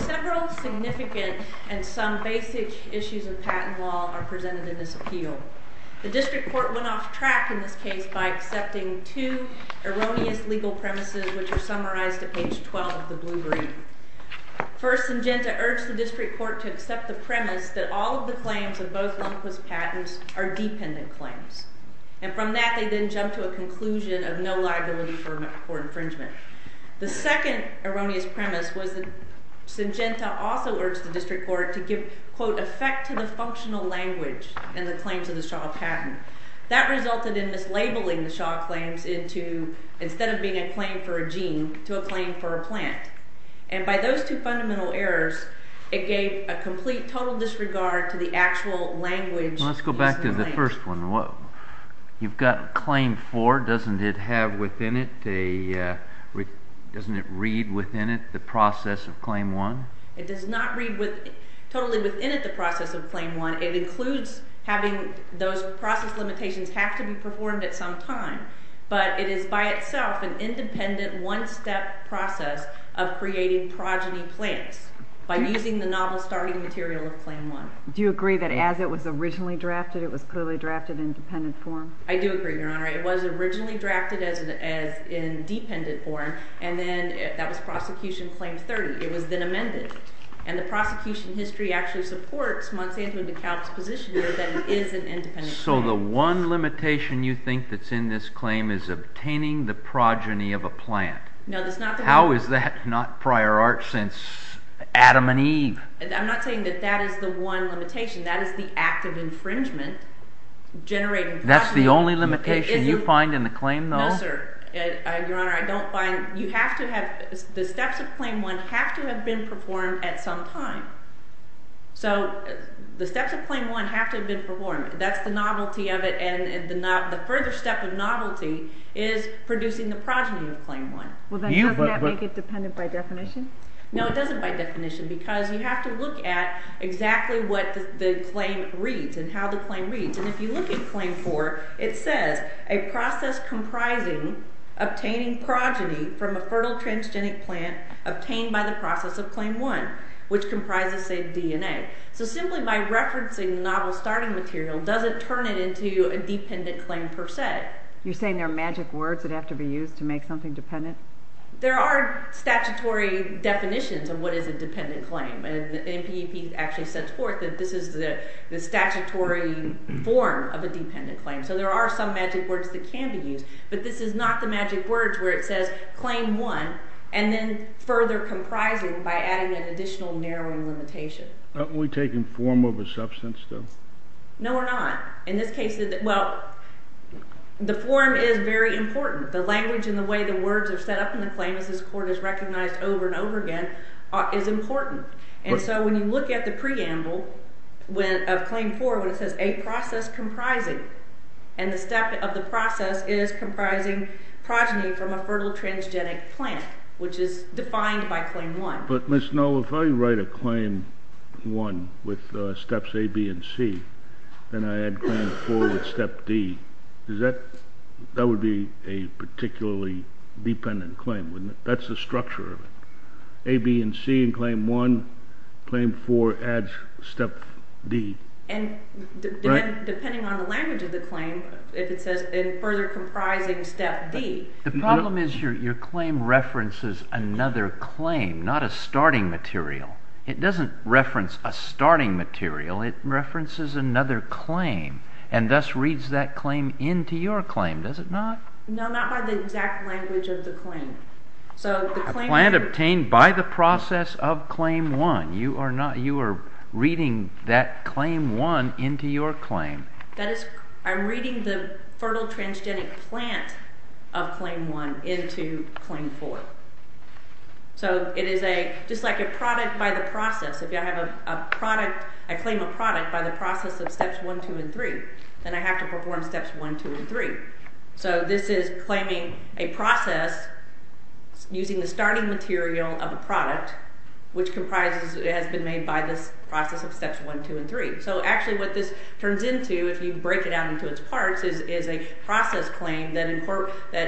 Several significant and some basic issues of patent law are presented in this appeal. The District Court went off track in this case by accepting two erroneous legal premises, which are summarized at page 12 of the Blue-Green. First, Syngenta urged the District Court to accept the premise that all of the claims of both Lundquist patents are dependent claims. And from that, they then jumped to a conclusion of no liability for infringement. The second erroneous premise was that Syngenta also urged the District Court to give, quote, effect to the functional language in the claims of the Shaw patent. That resulted in mislabeling the Shaw claims into, instead of being a claim for a gene, to a claim for a plant. And by those two fundamental errors, it gave a complete, total disregard to the actual language used in the claims. The first one, you've got claim four, doesn't it have within it, doesn't it read within it the process of claim one? It does not read totally within it the process of claim one. It includes having those process limitations have to be performed at some time. But it is by itself an independent, one-step process of creating progeny plants by using the novel starting material of claim one. Do you agree that as it was originally drafted, it was clearly drafted in dependent form? I do agree, Your Honor. It was originally drafted as in dependent form, and then that was prosecution claim 30. It was then amended. And the prosecution history actually supports Monsanto and DeKalb's position here that it is an independent claim. So the one limitation you think that's in this claim is obtaining the progeny of a plant. No, that's not the one. How is that not prior art since Adam and Eve? I'm not saying that that is the one limitation. That is the act of infringement generating progeny. That's the only limitation you find in the claim, though? No, sir. Your Honor, I don't find – you have to have – the steps of claim one have to have been performed at some time. So the steps of claim one have to have been performed. That's the novelty of it, and the further step of novelty is producing the progeny of claim one. Well, then doesn't that make it dependent by definition? No, it doesn't by definition because you have to look at exactly what the claim reads and how the claim reads. And if you look at claim four, it says a process comprising obtaining progeny from a fertile transgenic plant obtained by the process of claim one, which comprises, say, DNA. So simply by referencing the novel starting material doesn't turn it into a dependent claim per se. You're saying there are magic words that have to be used to make something dependent? There are statutory definitions of what is a dependent claim, and the NPEP actually sets forth that this is the statutory form of a dependent claim. So there are some magic words that can be used, but this is not the magic words where it says claim one and then further comprising by adding an additional narrowing limitation. Aren't we taking form over substance, though? No, we're not. In this case, well, the form is very important. The language and the way the words are set up in the claim as this court has recognized over and over again is important. And so when you look at the preamble of claim four when it says a process comprising, and the step of the process is comprising progeny from a fertile transgenic plant, which is defined by claim one. But, Ms. Null, if I write a claim one with steps A, B, and C, and I add claim four with step D, that would be a particularly dependent claim, wouldn't it? That's the structure of it. A, B, and C in claim one, claim four adds step D. And depending on the language of the claim, if it says further comprising step D. The problem is your claim references another claim, not a starting material. It doesn't reference a starting material, it references another claim and thus reads that claim into your claim, does it not? No, not by the exact language of the claim. A plant obtained by the process of claim one, you are reading that claim one into your claim. I'm reading the fertile transgenic plant of claim one into claim four. So it is just like a product by the process. If I claim a product by the process of steps one, two, and three, then I have to perform steps one, two, and three. So this is claiming a process using the starting material of a product which has been made by this process of steps one, two, and three. So actually what this turns into, if you break it down into its parts, is a process claim that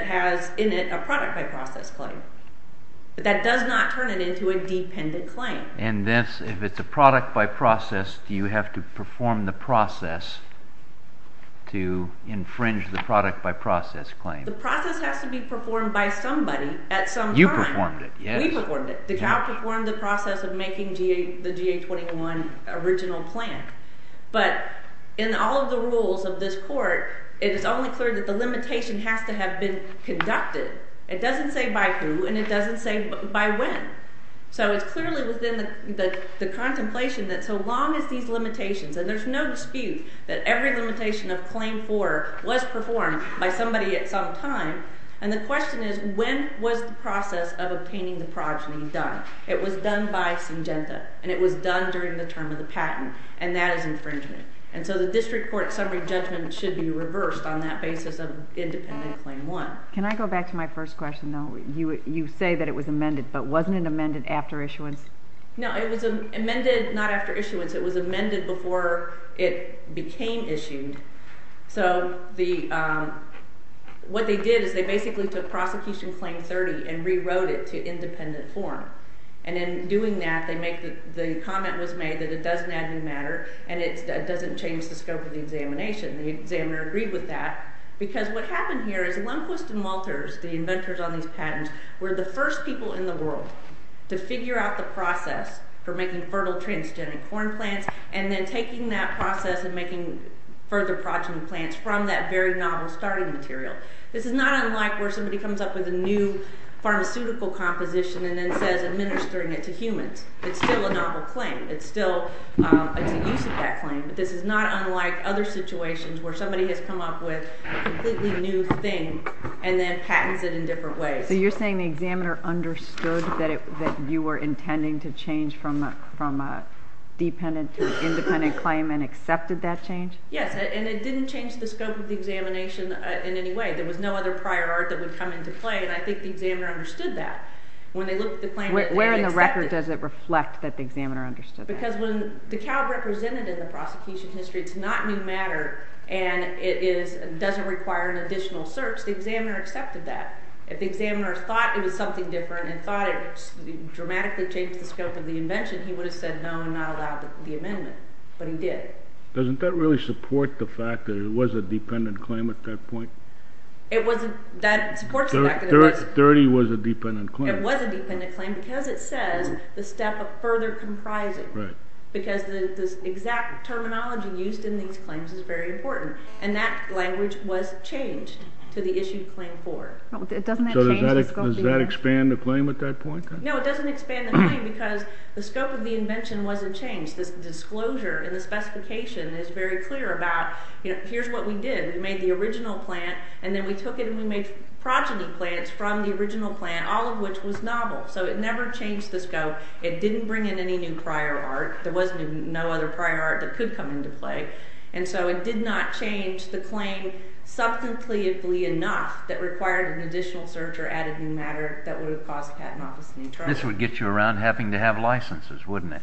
has in it a product by process claim. But that does not turn it into a dependent claim. And if it's a product by process, do you have to perform the process to infringe the product by process claim? The process has to be performed by somebody at some time. You performed it, yes. We performed it. DeKalb performed the process of making the GA-21 original plant. But in all of the rules of this court, it is only clear that the limitation has to have been conducted. It doesn't say by who, and it doesn't say by when. So it's clearly within the contemplation that so long as these limitations, and there's no dispute that every limitation of claim four was performed by somebody at some time. And the question is when was the process of obtaining the progeny done? It was done by Syngenta, and it was done during the term of the patent, and that is infringement. And so the district court summary judgment should be reversed on that basis of independent claim one. Can I go back to my first question, though? You say that it was amended, but wasn't it amended after issuance? No, it was amended not after issuance. It was amended before it became issued. So what they did is they basically took prosecution claim 30 and rewrote it to independent form. And in doing that, the comment was made that it doesn't add new matter and it doesn't change the scope of the examination. The examiner agreed with that because what happened here is Lundquist and Walters, the inventors on these patents, were the first people in the world to figure out the process for making fertile transgenic corn plants and then taking that process and making further progeny plants from that very novel starting material. This is not unlike where somebody comes up with a new pharmaceutical composition and then says administering it to humans. It's still a novel claim. It's still a use of that claim. But this is not unlike other situations where somebody has come up with a completely new thing and then patents it in different ways. So you're saying the examiner understood that you were intending to change from a dependent to an independent claim and accepted that change? Yes, and it didn't change the scope of the examination in any way. There was no other prior art that would come into play, and I think the examiner understood that. When they looked at the claim, they accepted it. Where in the record does it reflect that the examiner understood that? Because when the cow represented in the prosecution history, it's not new matter and it doesn't require an additional search. The examiner accepted that. If the examiner thought it was something different and thought it dramatically changed the scope of the invention, he would have said no and not allowed the amendment, but he did. Doesn't that really support the fact that it was a dependent claim at that point? It wasn't. That supports the fact that it was. 30 was a dependent claim. It was a dependent claim because it says the step of further comprising. Right. Because the exact terminology used in these claims is very important, and that language was changed to the issue claimed for. Does that expand the claim at that point? No, it doesn't expand the claim because the scope of the invention wasn't changed. The disclosure and the specification is very clear about here's what we did. We made the original plant, and then we took it and we made progeny plants from the original plant, all of which was novel. So it never changed the scope. It didn't bring in any new prior art. There was no other prior art that could come into play. And so it did not change the claim subcompletely enough that required an additional search or added new matter that would have caused a patent office to be charged. This would get you around having to have licenses, wouldn't it?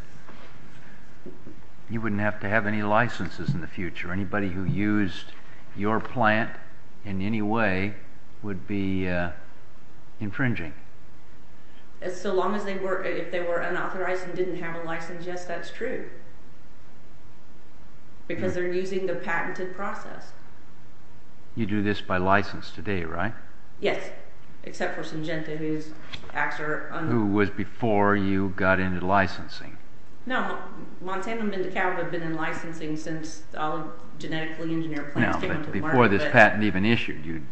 You wouldn't have to have any licenses in the future. Anybody who used your plant in any way would be infringing. So long as they were unauthorized and didn't have a license, yes, that's true. Because they're using the patented process. You do this by license today, right? Yes, except for Syngenta, whose acts are unauthorized. Who was before you got into licensing. No, Montanum and DeKalb have been in licensing since all genetically engineered plants came into the market. No, but before this patent even issued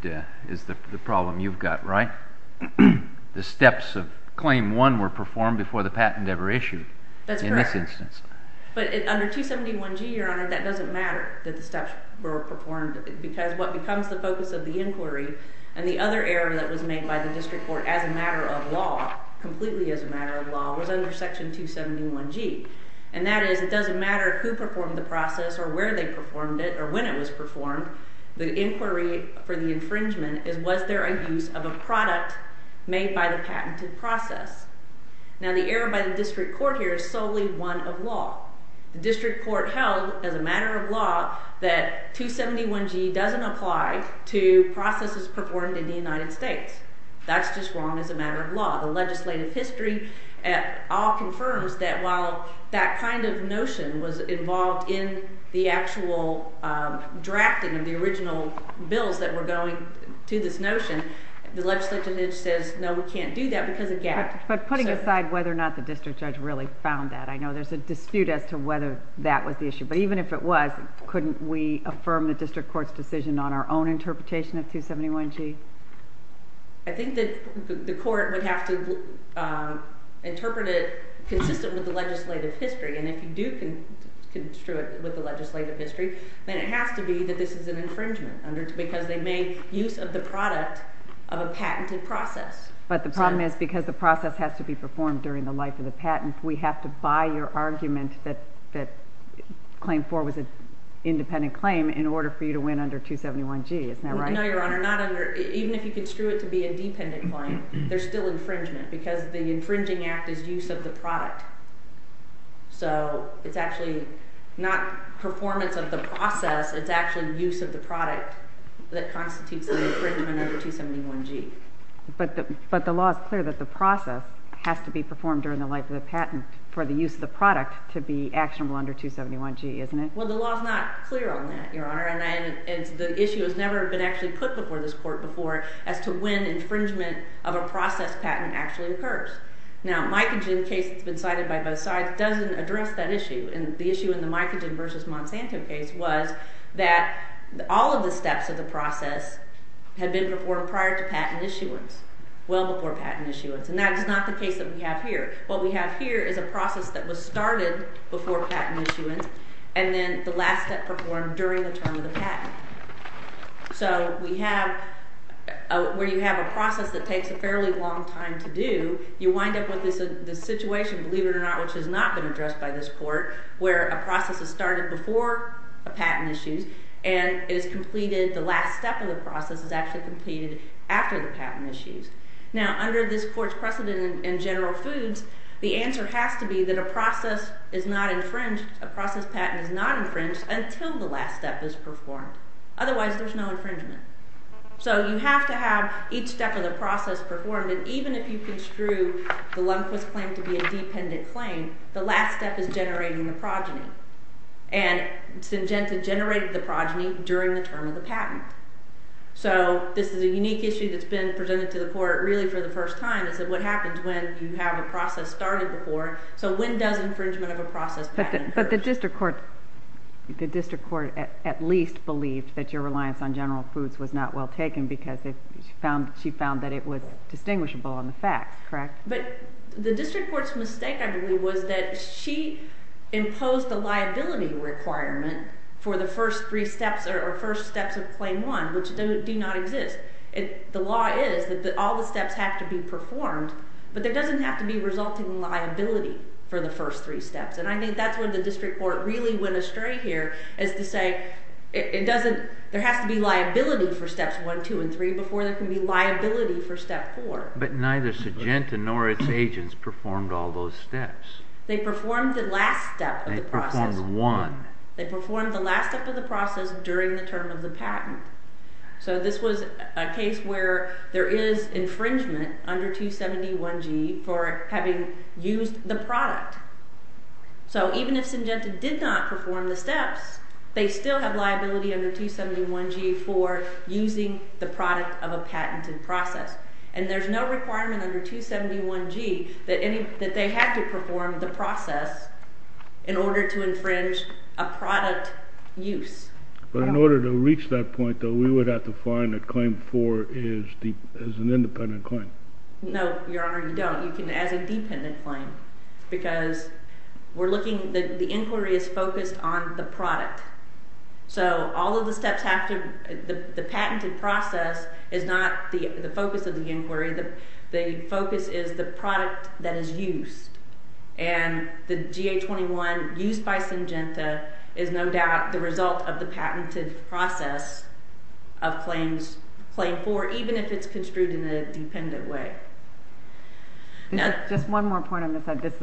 is the problem you've got, right? The steps of claim one were performed before the patent ever issued in this instance. But under 271G, Your Honor, that doesn't matter that the steps were performed. Because what becomes the focus of the inquiry and the other error that was made by the district court as a matter of law, completely as a matter of law, was under Section 271G. And that is it doesn't matter who performed the process or where they performed it or when it was performed. The inquiry for the infringement is was there a use of a product made by the patented process? Now the error by the district court here is solely one of law. The district court held as a matter of law that 271G doesn't apply to processes performed in the United States. That's just wrong as a matter of law. The legislative history at all confirms that while that kind of notion was involved in the actual drafting of the original bills that were going to this notion, the legislature says no we can't do that because of gap. But putting aside whether or not the district judge really found that, I know there's a dispute as to whether that was the issue. But even if it was, couldn't we affirm the district court's decision on our own interpretation of 271G? I think that the court would have to interpret it consistent with the legislative history. And if you do construe it with the legislative history, then it has to be that this is an infringement because they made use of the product of a patented process. But the problem is because the process has to be performed during the life of the patent, we have to buy your argument that claim four was an independent claim in order for you to win under 271G. Isn't that right? No, Your Honor. Even if you construe it to be a dependent claim, there's still infringement because the infringing act is use of the product. So it's actually not performance of the process, it's actually use of the product that constitutes an infringement under 271G. But the law is clear that the process has to be performed during the life of the patent for the use of the product to be actionable under 271G, isn't it? Well, the law is not clear on that, Your Honor. And the issue has never been actually put before this court before as to when infringement of a process patent actually occurs. Now, Micogen case that's been cited by both sides doesn't address that issue. And the issue in the Micogen v. Monsanto case was that all of the steps of the process had been performed prior to patent issuance, well before patent issuance. And that is not the case that we have here. What we have here is a process that was started before patent issuance and then the last step performed during the term of the patent. So we have – where you have a process that takes a fairly long time to do, you wind up with this situation, believe it or not, which has not been addressed by this court, where a process is started before a patent issues and is completed – the last step of the process is actually completed after the patent issues. Now, under this court's precedent in general foods, the answer has to be that a process is not infringed, a process patent is not infringed until the last step is performed. Otherwise, there's no infringement. So you have to have each step of the process performed. And even if you construe the Lundquist claim to be a dependent claim, the last step is generating the progeny. And Syngenta generated the progeny during the term of the patent. So this is a unique issue that's been presented to the court really for the first time. It's what happens when you have a process started before. So when does infringement of a process patent occur? But the district court at least believed that your reliance on general foods was not well taken because she found that it was distinguishable on the facts, correct? But the district court's mistake, I believe, was that she imposed a liability requirement for the first three steps or first steps of claim one, which do not exist. The law is that all the steps have to be performed, but there doesn't have to be resulting liability for the first three steps. And I think that's where the district court really went astray here as to say it doesn't – there has to be liability for steps one, two, and three before there can be liability for step four. But neither Syngenta nor its agents performed all those steps. They performed the last step of the process. They performed one. They performed the last step of the process during the term of the patent. So this was a case where there is infringement under 271G for having used the product. So even if Syngenta did not perform the steps, they still have liability under 271G for using the product of a patented process. And there's no requirement under 271G that they have to perform the process in order to infringe a product use. But in order to reach that point, though, we would have to find a claim for as an independent claim. No, Your Honor, you don't. You can as a dependent claim because we're looking – the inquiry is focused on the product. So all of the steps have to – the patented process is not the focus of the inquiry. The focus is the product that is used. And the GA-21 used by Syngenta is no doubt the result of the patented process of claims – claim four, even if it's construed in a dependent way. Just one more point on this. This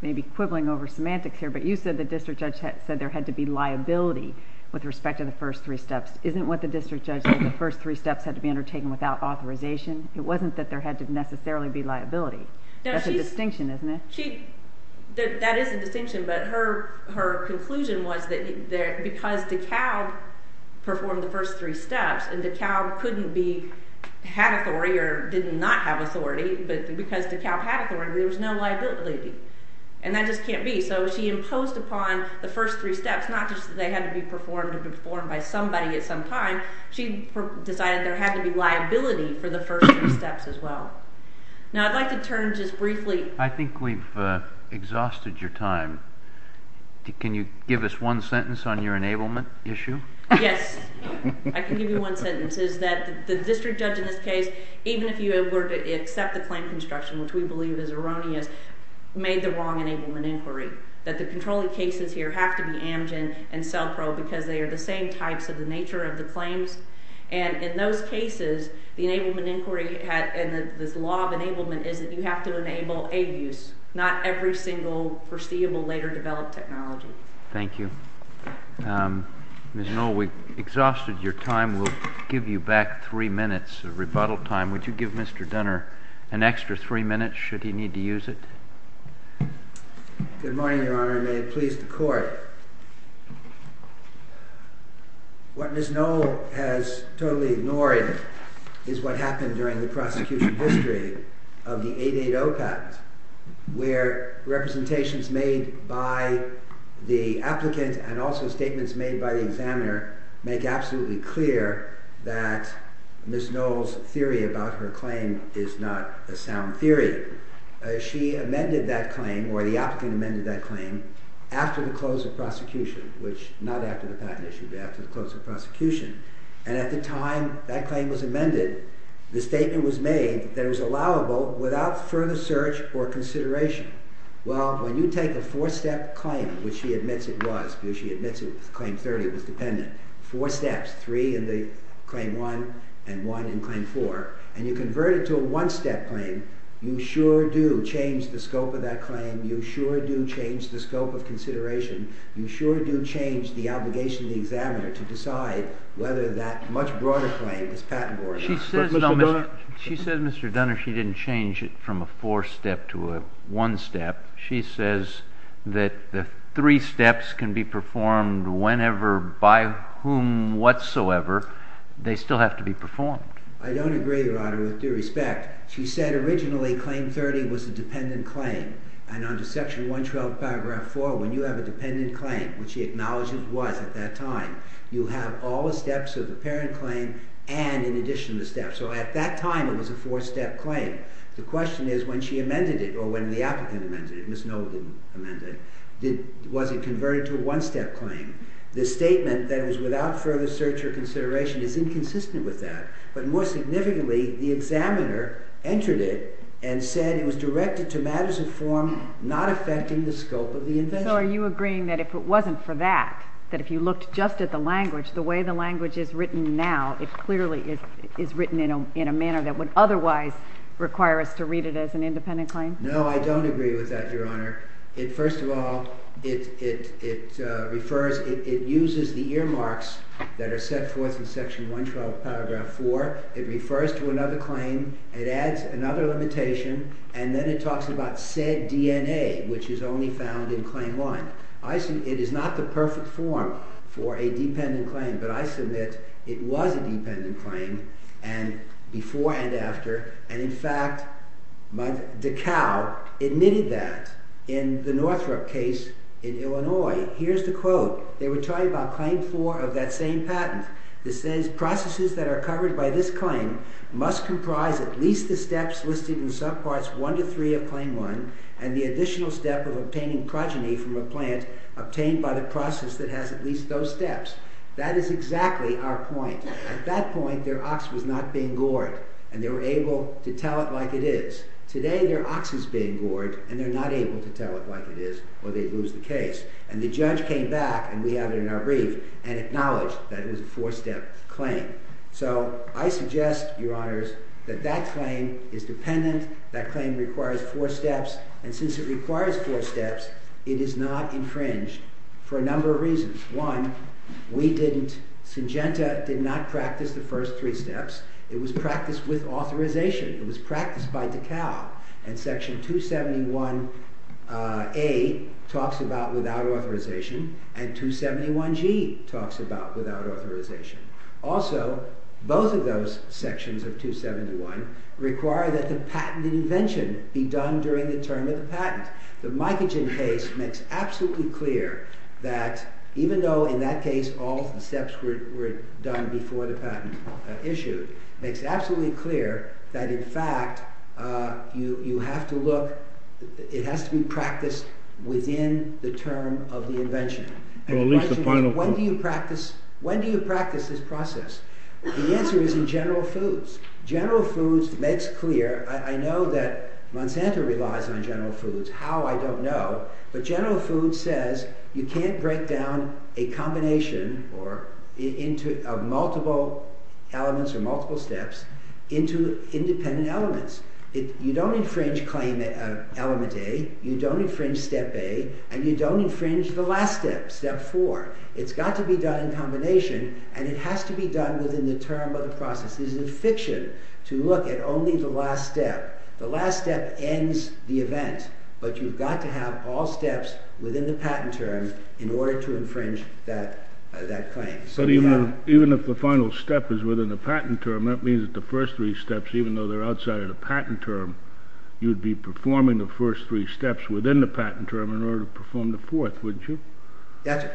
may be quibbling over semantics here, but you said the district judge said there had to be liability with respect to the first three steps. Isn't what the district judge said the first three steps had to be undertaken without authorization? It wasn't that there had to necessarily be liability. That's a distinction, isn't it? That is a distinction, but her conclusion was that because DeKalb performed the first three steps – and DeKalb couldn't be – had authority or did not have authority, but because DeKalb had authority, there was no liability. And that just can't be. So she imposed upon the first three steps not just that they had to be performed or performed by somebody at some time. She decided there had to be liability for the first three steps as well. Now I'd like to turn just briefly – I think we've exhausted your time. Can you give us one sentence on your enablement issue? Yes. I can give you one sentence. It is that the district judge in this case, even if you were to accept the claim construction, which we believe is erroneous, made the wrong enablement inquiry, that the controlling cases here have to be Amgen and CELPRO because they are the same types of the nature of the claims. And in those cases, the enablement inquiry and this law of enablement is that you have to enable aid use, not every single foreseeable later developed technology. Thank you. Ms. Noll, we've exhausted your time. We'll give you back three minutes of rebuttal time. Would you give Mr. Dunner an extra three minutes should he need to use it? Good morning, Your Honor, and may it please the Court. What Ms. Noll has totally ignored is what happened during the prosecution history of the 880 patent, where representations made by the applicant and also statements made by the examiner make absolutely clear that Ms. Noll's theory about her claim is not a sound theory. She amended that claim, or the applicant amended that claim, after the close of prosecution, which not after the patent issue, but after the close of prosecution. And at the time that claim was amended, the statement was made that it was allowable without further search or consideration. Well, when you take a four-step claim, which she admits it was, because she admits it was Claim 30, it was dependent, four steps, three in Claim 1 and one in Claim 4, and you convert it to a one-step claim, you sure do change the scope of that claim. You sure do change the scope of consideration. You sure do change the obligation of the examiner to decide whether that much broader claim is patentable or not. She says, Mr. Dunner, she didn't change it from a four-step to a one-step. She says that the three steps can be performed whenever by whom whatsoever. They still have to be performed. I don't agree, Your Honor, with due respect. She said originally Claim 30 was a dependent claim, and under Section 112, Paragraph 4, when you have a dependent claim, which she acknowledges it was at that time, you have all the steps of the parent claim and in addition to the steps. So at that time, it was a four-step claim. The question is when she amended it or when the applicant amended it, Ms. Noll didn't amend it, was it converted to a one-step claim? The statement that it was without further search or consideration is inconsistent with that. But more significantly, the examiner entered it and said it was directed to matters of form not affecting the scope of the invention. So are you agreeing that if it wasn't for that, that if you looked just at the language, the way the language is written now, it clearly is written in a manner that would otherwise require us to read it as an independent claim? No, I don't agree with that, Your Honor. First of all, it refers, it uses the earmarks that are set forth in Section 112, Paragraph 4. It refers to another claim. It adds another limitation, and then it talks about said DNA, which is only found in Claim 1. It is not the perfect form for a dependent claim, but I submit it was a dependent claim, and before and after, and in fact, DeKalb admitted that in the Northrop case in Illinois. Here's the quote. They were talking about Claim 4 of that same patent. It says processes that are covered by this claim must comprise at least the steps listed in subparts 1 to 3 of Claim 1 and the additional step of obtaining progeny from a plant obtained by the process that has at least those steps. That is exactly our point. At that point, their ox was not being gored, and they were able to tell it like it is. Today, their ox is being gored, and they're not able to tell it like it is, or they'd lose the case. And the judge came back, and we have it in our brief, and acknowledged that it was a four-step claim. So I suggest, Your Honors, that that claim is dependent, that claim requires four steps, and since it requires four steps, it is not infringed for a number of reasons. One, we didn't, Syngenta did not practice the first three steps. It was practiced with authorization. It was practiced by DeKalb, and Section 271A talks about without authorization, and 271G talks about without authorization. Also, both of those sections of 271 require that the patent invention be done during the term of the patent. The Micogen case makes absolutely clear that, even though in that case all the steps were done before the patent issued, makes absolutely clear that, in fact, you have to look, it has to be practiced within the term of the invention. When do you practice this process? The answer is in General Foods. General Foods makes clear, I know that Monsanto relies on General Foods, how I don't know, but General Foods says you can't break down a combination of multiple elements or multiple steps into independent elements. You don't infringe Claim Element A, you don't infringe Step A, and you don't infringe the last step, Step 4. It's got to be done in combination, and it has to be done within the term of the process. This is a fiction to look at only the last step. The last step ends the event, but you've got to have all steps within the patent term in order to infringe that claim. Even if the final step is within the patent term, that means that the first three steps, even though they're outside of the patent term, you'd be performing the first three steps within the patent term in order to perform the fourth, wouldn't you?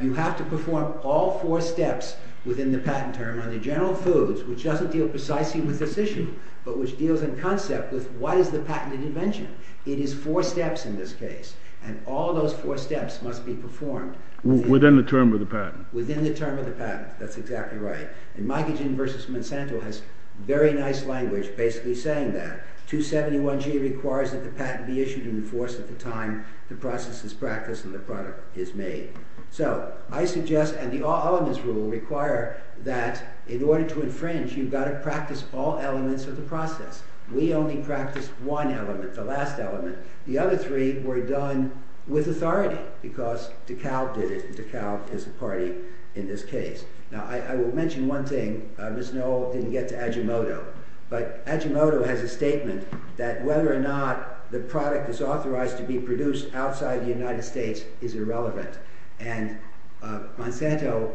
You have to perform all four steps within the patent term under General Foods, which doesn't deal precisely with this issue, but which deals in concept with what is the patented invention. It is four steps in this case, and all those four steps must be performed... Within the term of the patent. Within the term of the patent, that's exactly right. And Mike Agin versus Monsanto has very nice language basically saying that. 271G requires that the patent be issued in force at the time the process is practiced and the product is made. So, I suggest, and the All Elements Rule requires that in order to infringe, you've got to practice all elements of the process. We only practice one element, the last element. The other three were done with authority because DeKalb did it. DeKalb is a party in this case. Now, I will mention one thing. Ms. Noel didn't get to Ajimoto, but Ajimoto has a statement that whether or not the product is authorized to be produced outside the United States is irrelevant. And Monsanto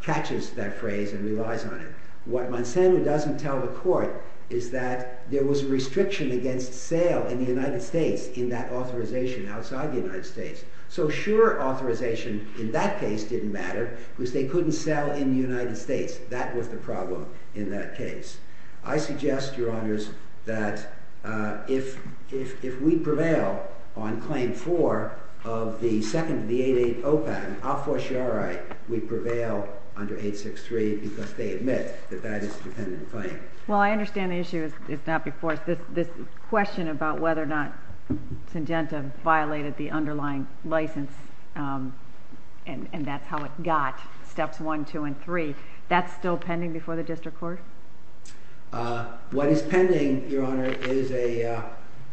catches that phrase and relies on it. What Monsanto doesn't tell the court is that there was a restriction against sale in the United States in that authorization outside the United States. So, sure, authorization in that case didn't matter because they couldn't sell in the United States. That was the problem in that case. I suggest, Your Honors, that if we prevail on Claim 4 of the second of the 880 patent, I'll for sure write we prevail under 863 because they admit that that is a dependent claim. Well, I understand the issue is not before us. This question about whether or not Syngenta violated the underlying license and that's how it got Steps 1, 2, and 3, that's still pending before the district court? What is pending, Your Honor, is a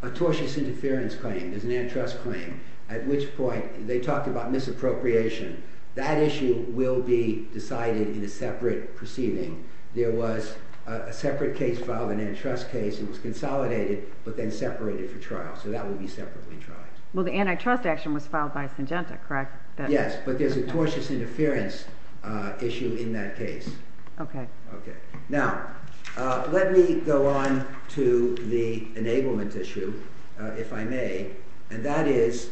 tortious interference claim. There's an antitrust claim at which point they talked about misappropriation. That issue will be decided in a separate proceeding. There was a separate case filed, an antitrust case. It was consolidated but then separated for trial. So that will be separately tried. Well, the antitrust action was filed by Syngenta, correct? Yes, but there's a tortious interference issue in that case. Now, let me go on to the enablement issue, if I may. And that is,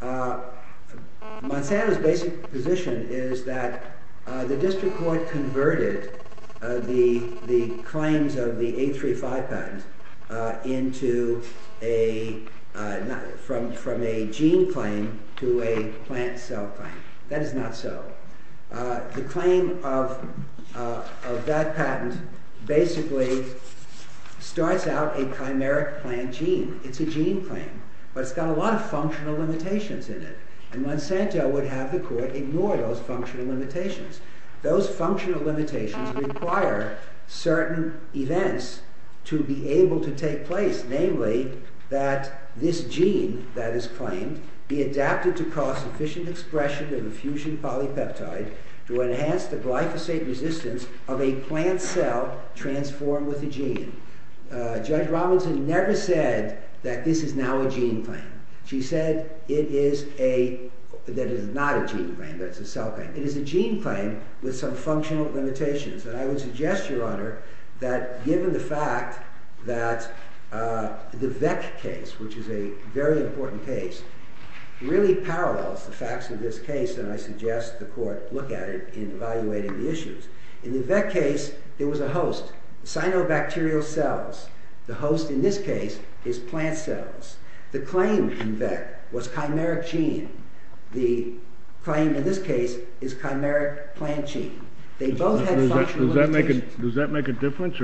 Monsanto's basic position is that the district court converted the claims of the 835 patent from a gene claim to a plant cell claim. That is not so. The claim of that patent basically starts out a chimeric plant gene. It's a gene claim, but it's got a lot of functional limitations in it. And Monsanto would have the court ignore those functional limitations. Those functional limitations require certain events to be able to take place. Namely, that this gene that is claimed be adapted to cause sufficient expression of effusion polypeptide to enhance the glyphosate resistance of a plant cell transformed with a gene. Judge Robinson never said that this is now a gene claim. She said that it is not a gene claim, but it's a cell claim. It is a gene claim with some functional limitations. And I would suggest, Your Honor, that given the fact that the VEC case, which is a very important case, really parallels the facts of this case, and I suggest the court look at it in evaluating the issues. In the VEC case, there was a host, cyanobacterial cells. The host in this case is plant cells. The claim in VEC was chimeric gene. The claim in this case is chimeric plant gene. They both had functional limitations. Does that make a difference?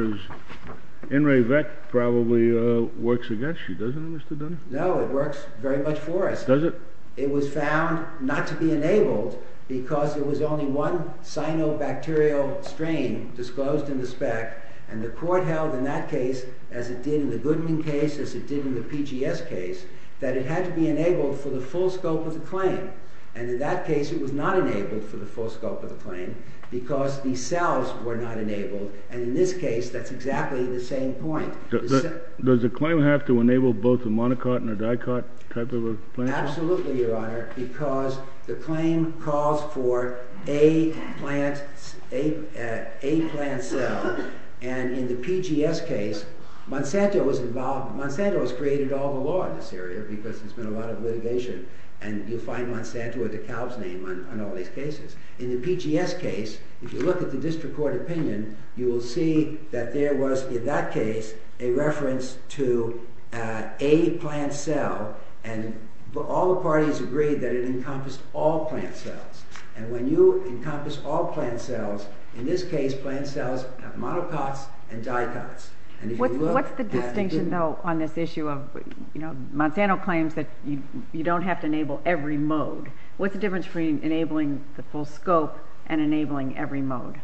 In re VEC probably works against you, doesn't it, Mr. Dunn? No, it works very much for us. Does it? It was found not to be enabled because there was only one cyanobacterial strain disclosed in the spec. And the court held in that case, as it did in the Goodman case, as it did in the PGS case, that it had to be enabled for the full scope of the claim. And in that case, it was not enabled for the full scope of the claim because the cells were not enabled. And in this case, that's exactly the same point. Does the claim have to enable both a monocot and a dicot type of a plant? Absolutely, Your Honor, because the claim calls for a plant cell. And in the PGS case, Monsanto has created all the law in this area because there's been a lot of litigation. And you'll find Monsanto or DeKalb's name on all these cases. In the PGS case, if you look at the district court opinion, you will see that there was, in that case, a reference to a plant cell. And all the parties agreed that it encompassed all plant cells. And when you encompass all plant cells, in this case, plant cells have monocots and dicots. What's the distinction, though, on this issue of, you know, Monsanto claims that you don't have to enable every mode. What's the difference between enabling the full scope and enabling every mode?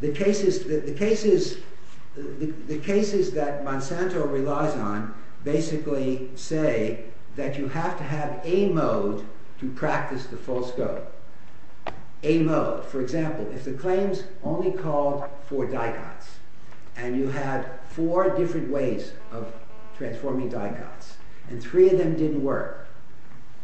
The cases that Monsanto relies on basically say that you have to have a mode to practice the full scope. A mode. For example, if the claims only called for dicots, and you had four different ways of transforming dicots, and three of them didn't work,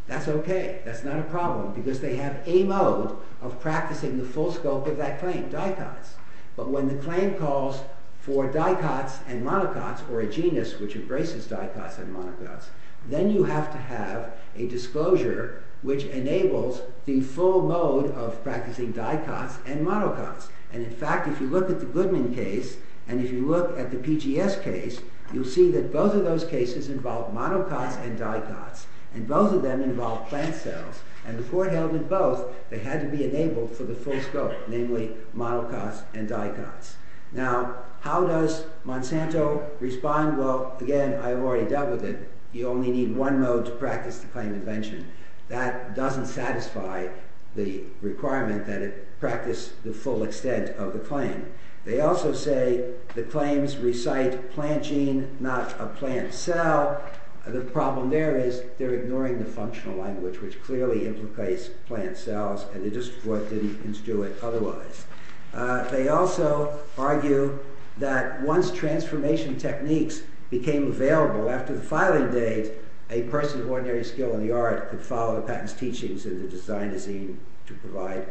that's okay, that's not a problem, because they have a mode of practicing the full scope of that claim, dicots. But when the claim calls for dicots and monocots, or a genus which embraces dicots and monocots, then you have to have a disclosure which enables the full mode of practicing dicots and monocots. And in fact, if you look at the Goodman case, and if you look at the PGS case, you'll see that both of those cases involve monocots and dicots, and both of them involve plant cells, and the court held that both had to be enabled for the full scope, namely monocots and dicots. Now, how does Monsanto respond? Well, again, I've already dealt with it. You only need one mode to practice the claim invention. That doesn't satisfy the requirement that it practice the full extent of the claim. They also say the claims recite plant gene, not a plant cell. The problem there is they're ignoring the functional language, which clearly implicates plant cells, and the district court didn't construe it otherwise. They also argue that once transformation techniques became available after the filing date, a person of ordinary skill in the art could follow Patton's teachings in the design of the gene to provide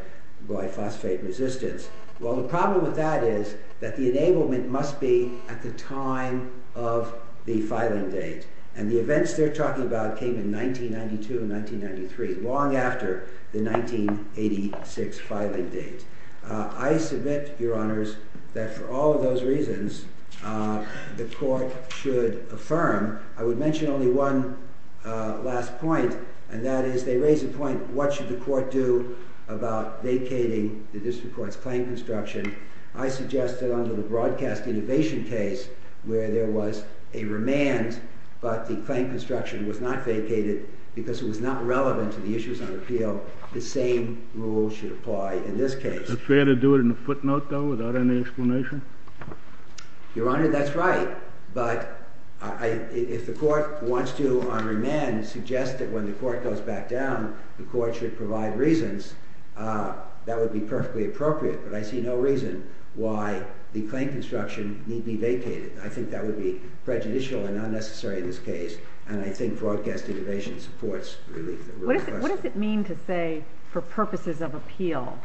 glyphosate resistance. Well, the problem with that is that the enablement must be at the time of the filing date, and the events they're talking about came in 1992 and 1993, long after the 1986 filing date. I submit, Your Honors, that for all of those reasons, the court should affirm. I would mention only one last point, and that is they raise the point, what should the court do about vacating the district court's claim construction? I suggest that under the broadcast innovation case, where there was a remand, but the claim construction was not vacated because it was not relevant to the issues on appeal, the same rule should apply in this case. Is it fair to do it in a footnote, though, without any explanation? Your Honor, that's right, but if the court wants to, on remand, suggest that when the court goes back down, the court should provide reasons, that would be perfectly appropriate, but I see no reason why the claim construction need be vacated. I think that would be prejudicial and unnecessary in this case, and I think broadcast innovation supports relief. What does it mean to say, for purposes of appeal,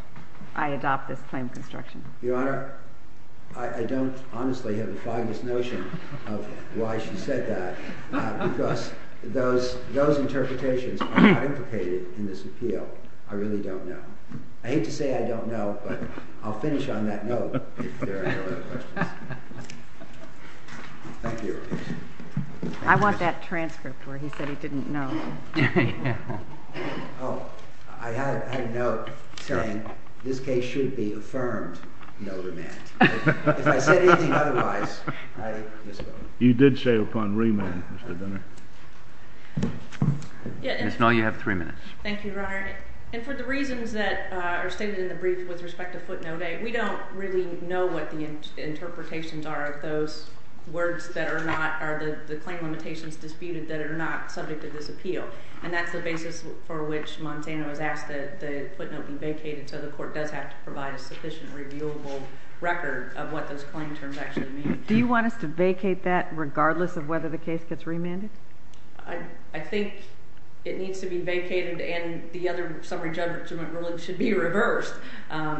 I adopt this claim construction? Your Honor, I don't honestly have the foggiest notion of why she said that, because those interpretations are not implicated in this appeal. I really don't know. I hate to say I don't know, but I'll finish on that note if there are no other questions. Thank you. I want that transcript where he said he didn't know. Oh, I had a note saying this case should be affirmed, no remand. If I said anything otherwise, I misspoke. You did say upon remand, Mr. Donner. Ms. Null, you have three minutes. Thank you, Your Honor. And for the reasons that are stated in the brief with respect to footnote A, we don't really know what the interpretations are of those words that are not, or the claim limitations disputed that are not subject to this appeal, and that's the basis for which Montana was asked that the footnote be vacated so the court does have to provide a sufficient reviewable record of what those claim terms actually mean. Do you want us to vacate that regardless of whether the case gets remanded? I think it needs to be vacated and the other summary judgment ruling should be reversed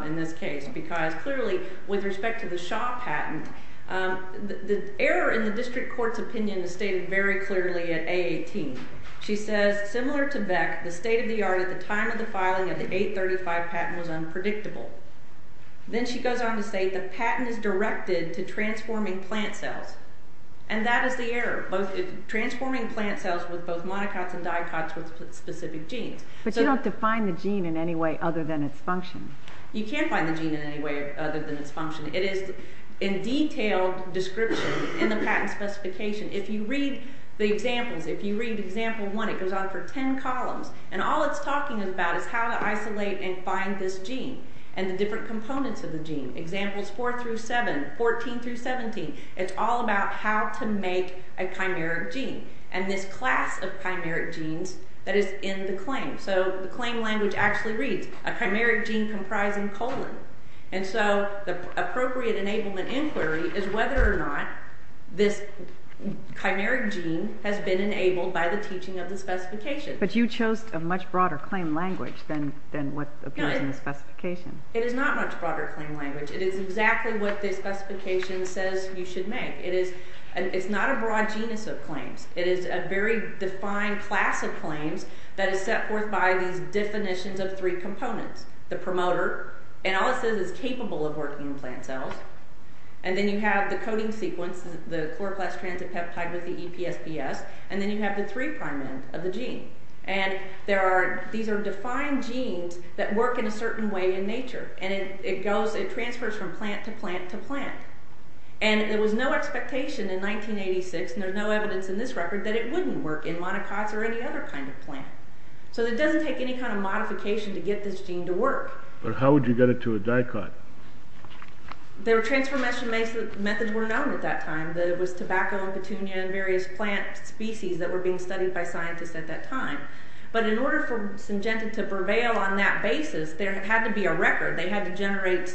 in this case, because clearly with respect to the Shaw patent, the error in the district court's opinion is stated very clearly at A18. She says, similar to Beck, the state-of-the-art at the time of the filing of the 835 patent was unpredictable. Then she goes on to say the patent is directed to transforming plant cells, and that is the error, transforming plant cells with both monocots and dicots with specific genes. But you don't define the gene in any way other than its function. You can't find the gene in any way other than its function. It is in detailed description in the patent specification. If you read the examples, if you read example 1, it goes on for 10 columns, and all it's talking about is how to isolate and find this gene and the different components of the gene, examples 4 through 7, 14 through 17. It's all about how to make a chimeric gene, and this class of chimeric genes that is in the claim. So the claim language actually reads, a chimeric gene comprising colon. And so the appropriate enablement inquiry is whether or not this chimeric gene has been enabled by the teaching of the specification. But you chose a much broader claim language than what appears in the specification. It is not much broader claim language. It is exactly what the specification says you should make. It is not a broad genus of claims. It is a very defined class of claims that is set forth by these definitions of three components. The promoter, and all it says is capable of working in plant cells. And then you have the coding sequence, the chloroplast transit peptide with the EPSPS. And then you have the three prime end of the gene. And these are defined genes that work in a certain way in nature, and it transfers from plant to plant to plant. And there was no expectation in 1986, and there's no evidence in this record, that it wouldn't work in monocots or any other kind of plant. So it doesn't take any kind of modification to get this gene to work. But how would you get it to a dicot? Their transformation methods were known at that time. There was tobacco and petunia and various plant species that were being studied by scientists at that time. But in order for Syngenta to prevail on that basis, there had to be a record. They had to generate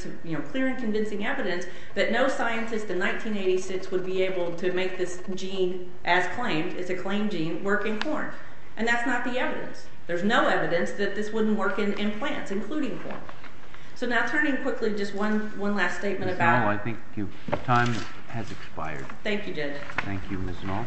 clear and convincing evidence that no scientist in 1986 would be able to make this gene, as claimed, it's a claimed gene, work in corn. And that's not the evidence. There's no evidence that this wouldn't work in plants, including corn. So now turning quickly, just one last statement about... Ms. Knoll, I think your time has expired. Thank you, Janet. Thank you, Ms. Knoll.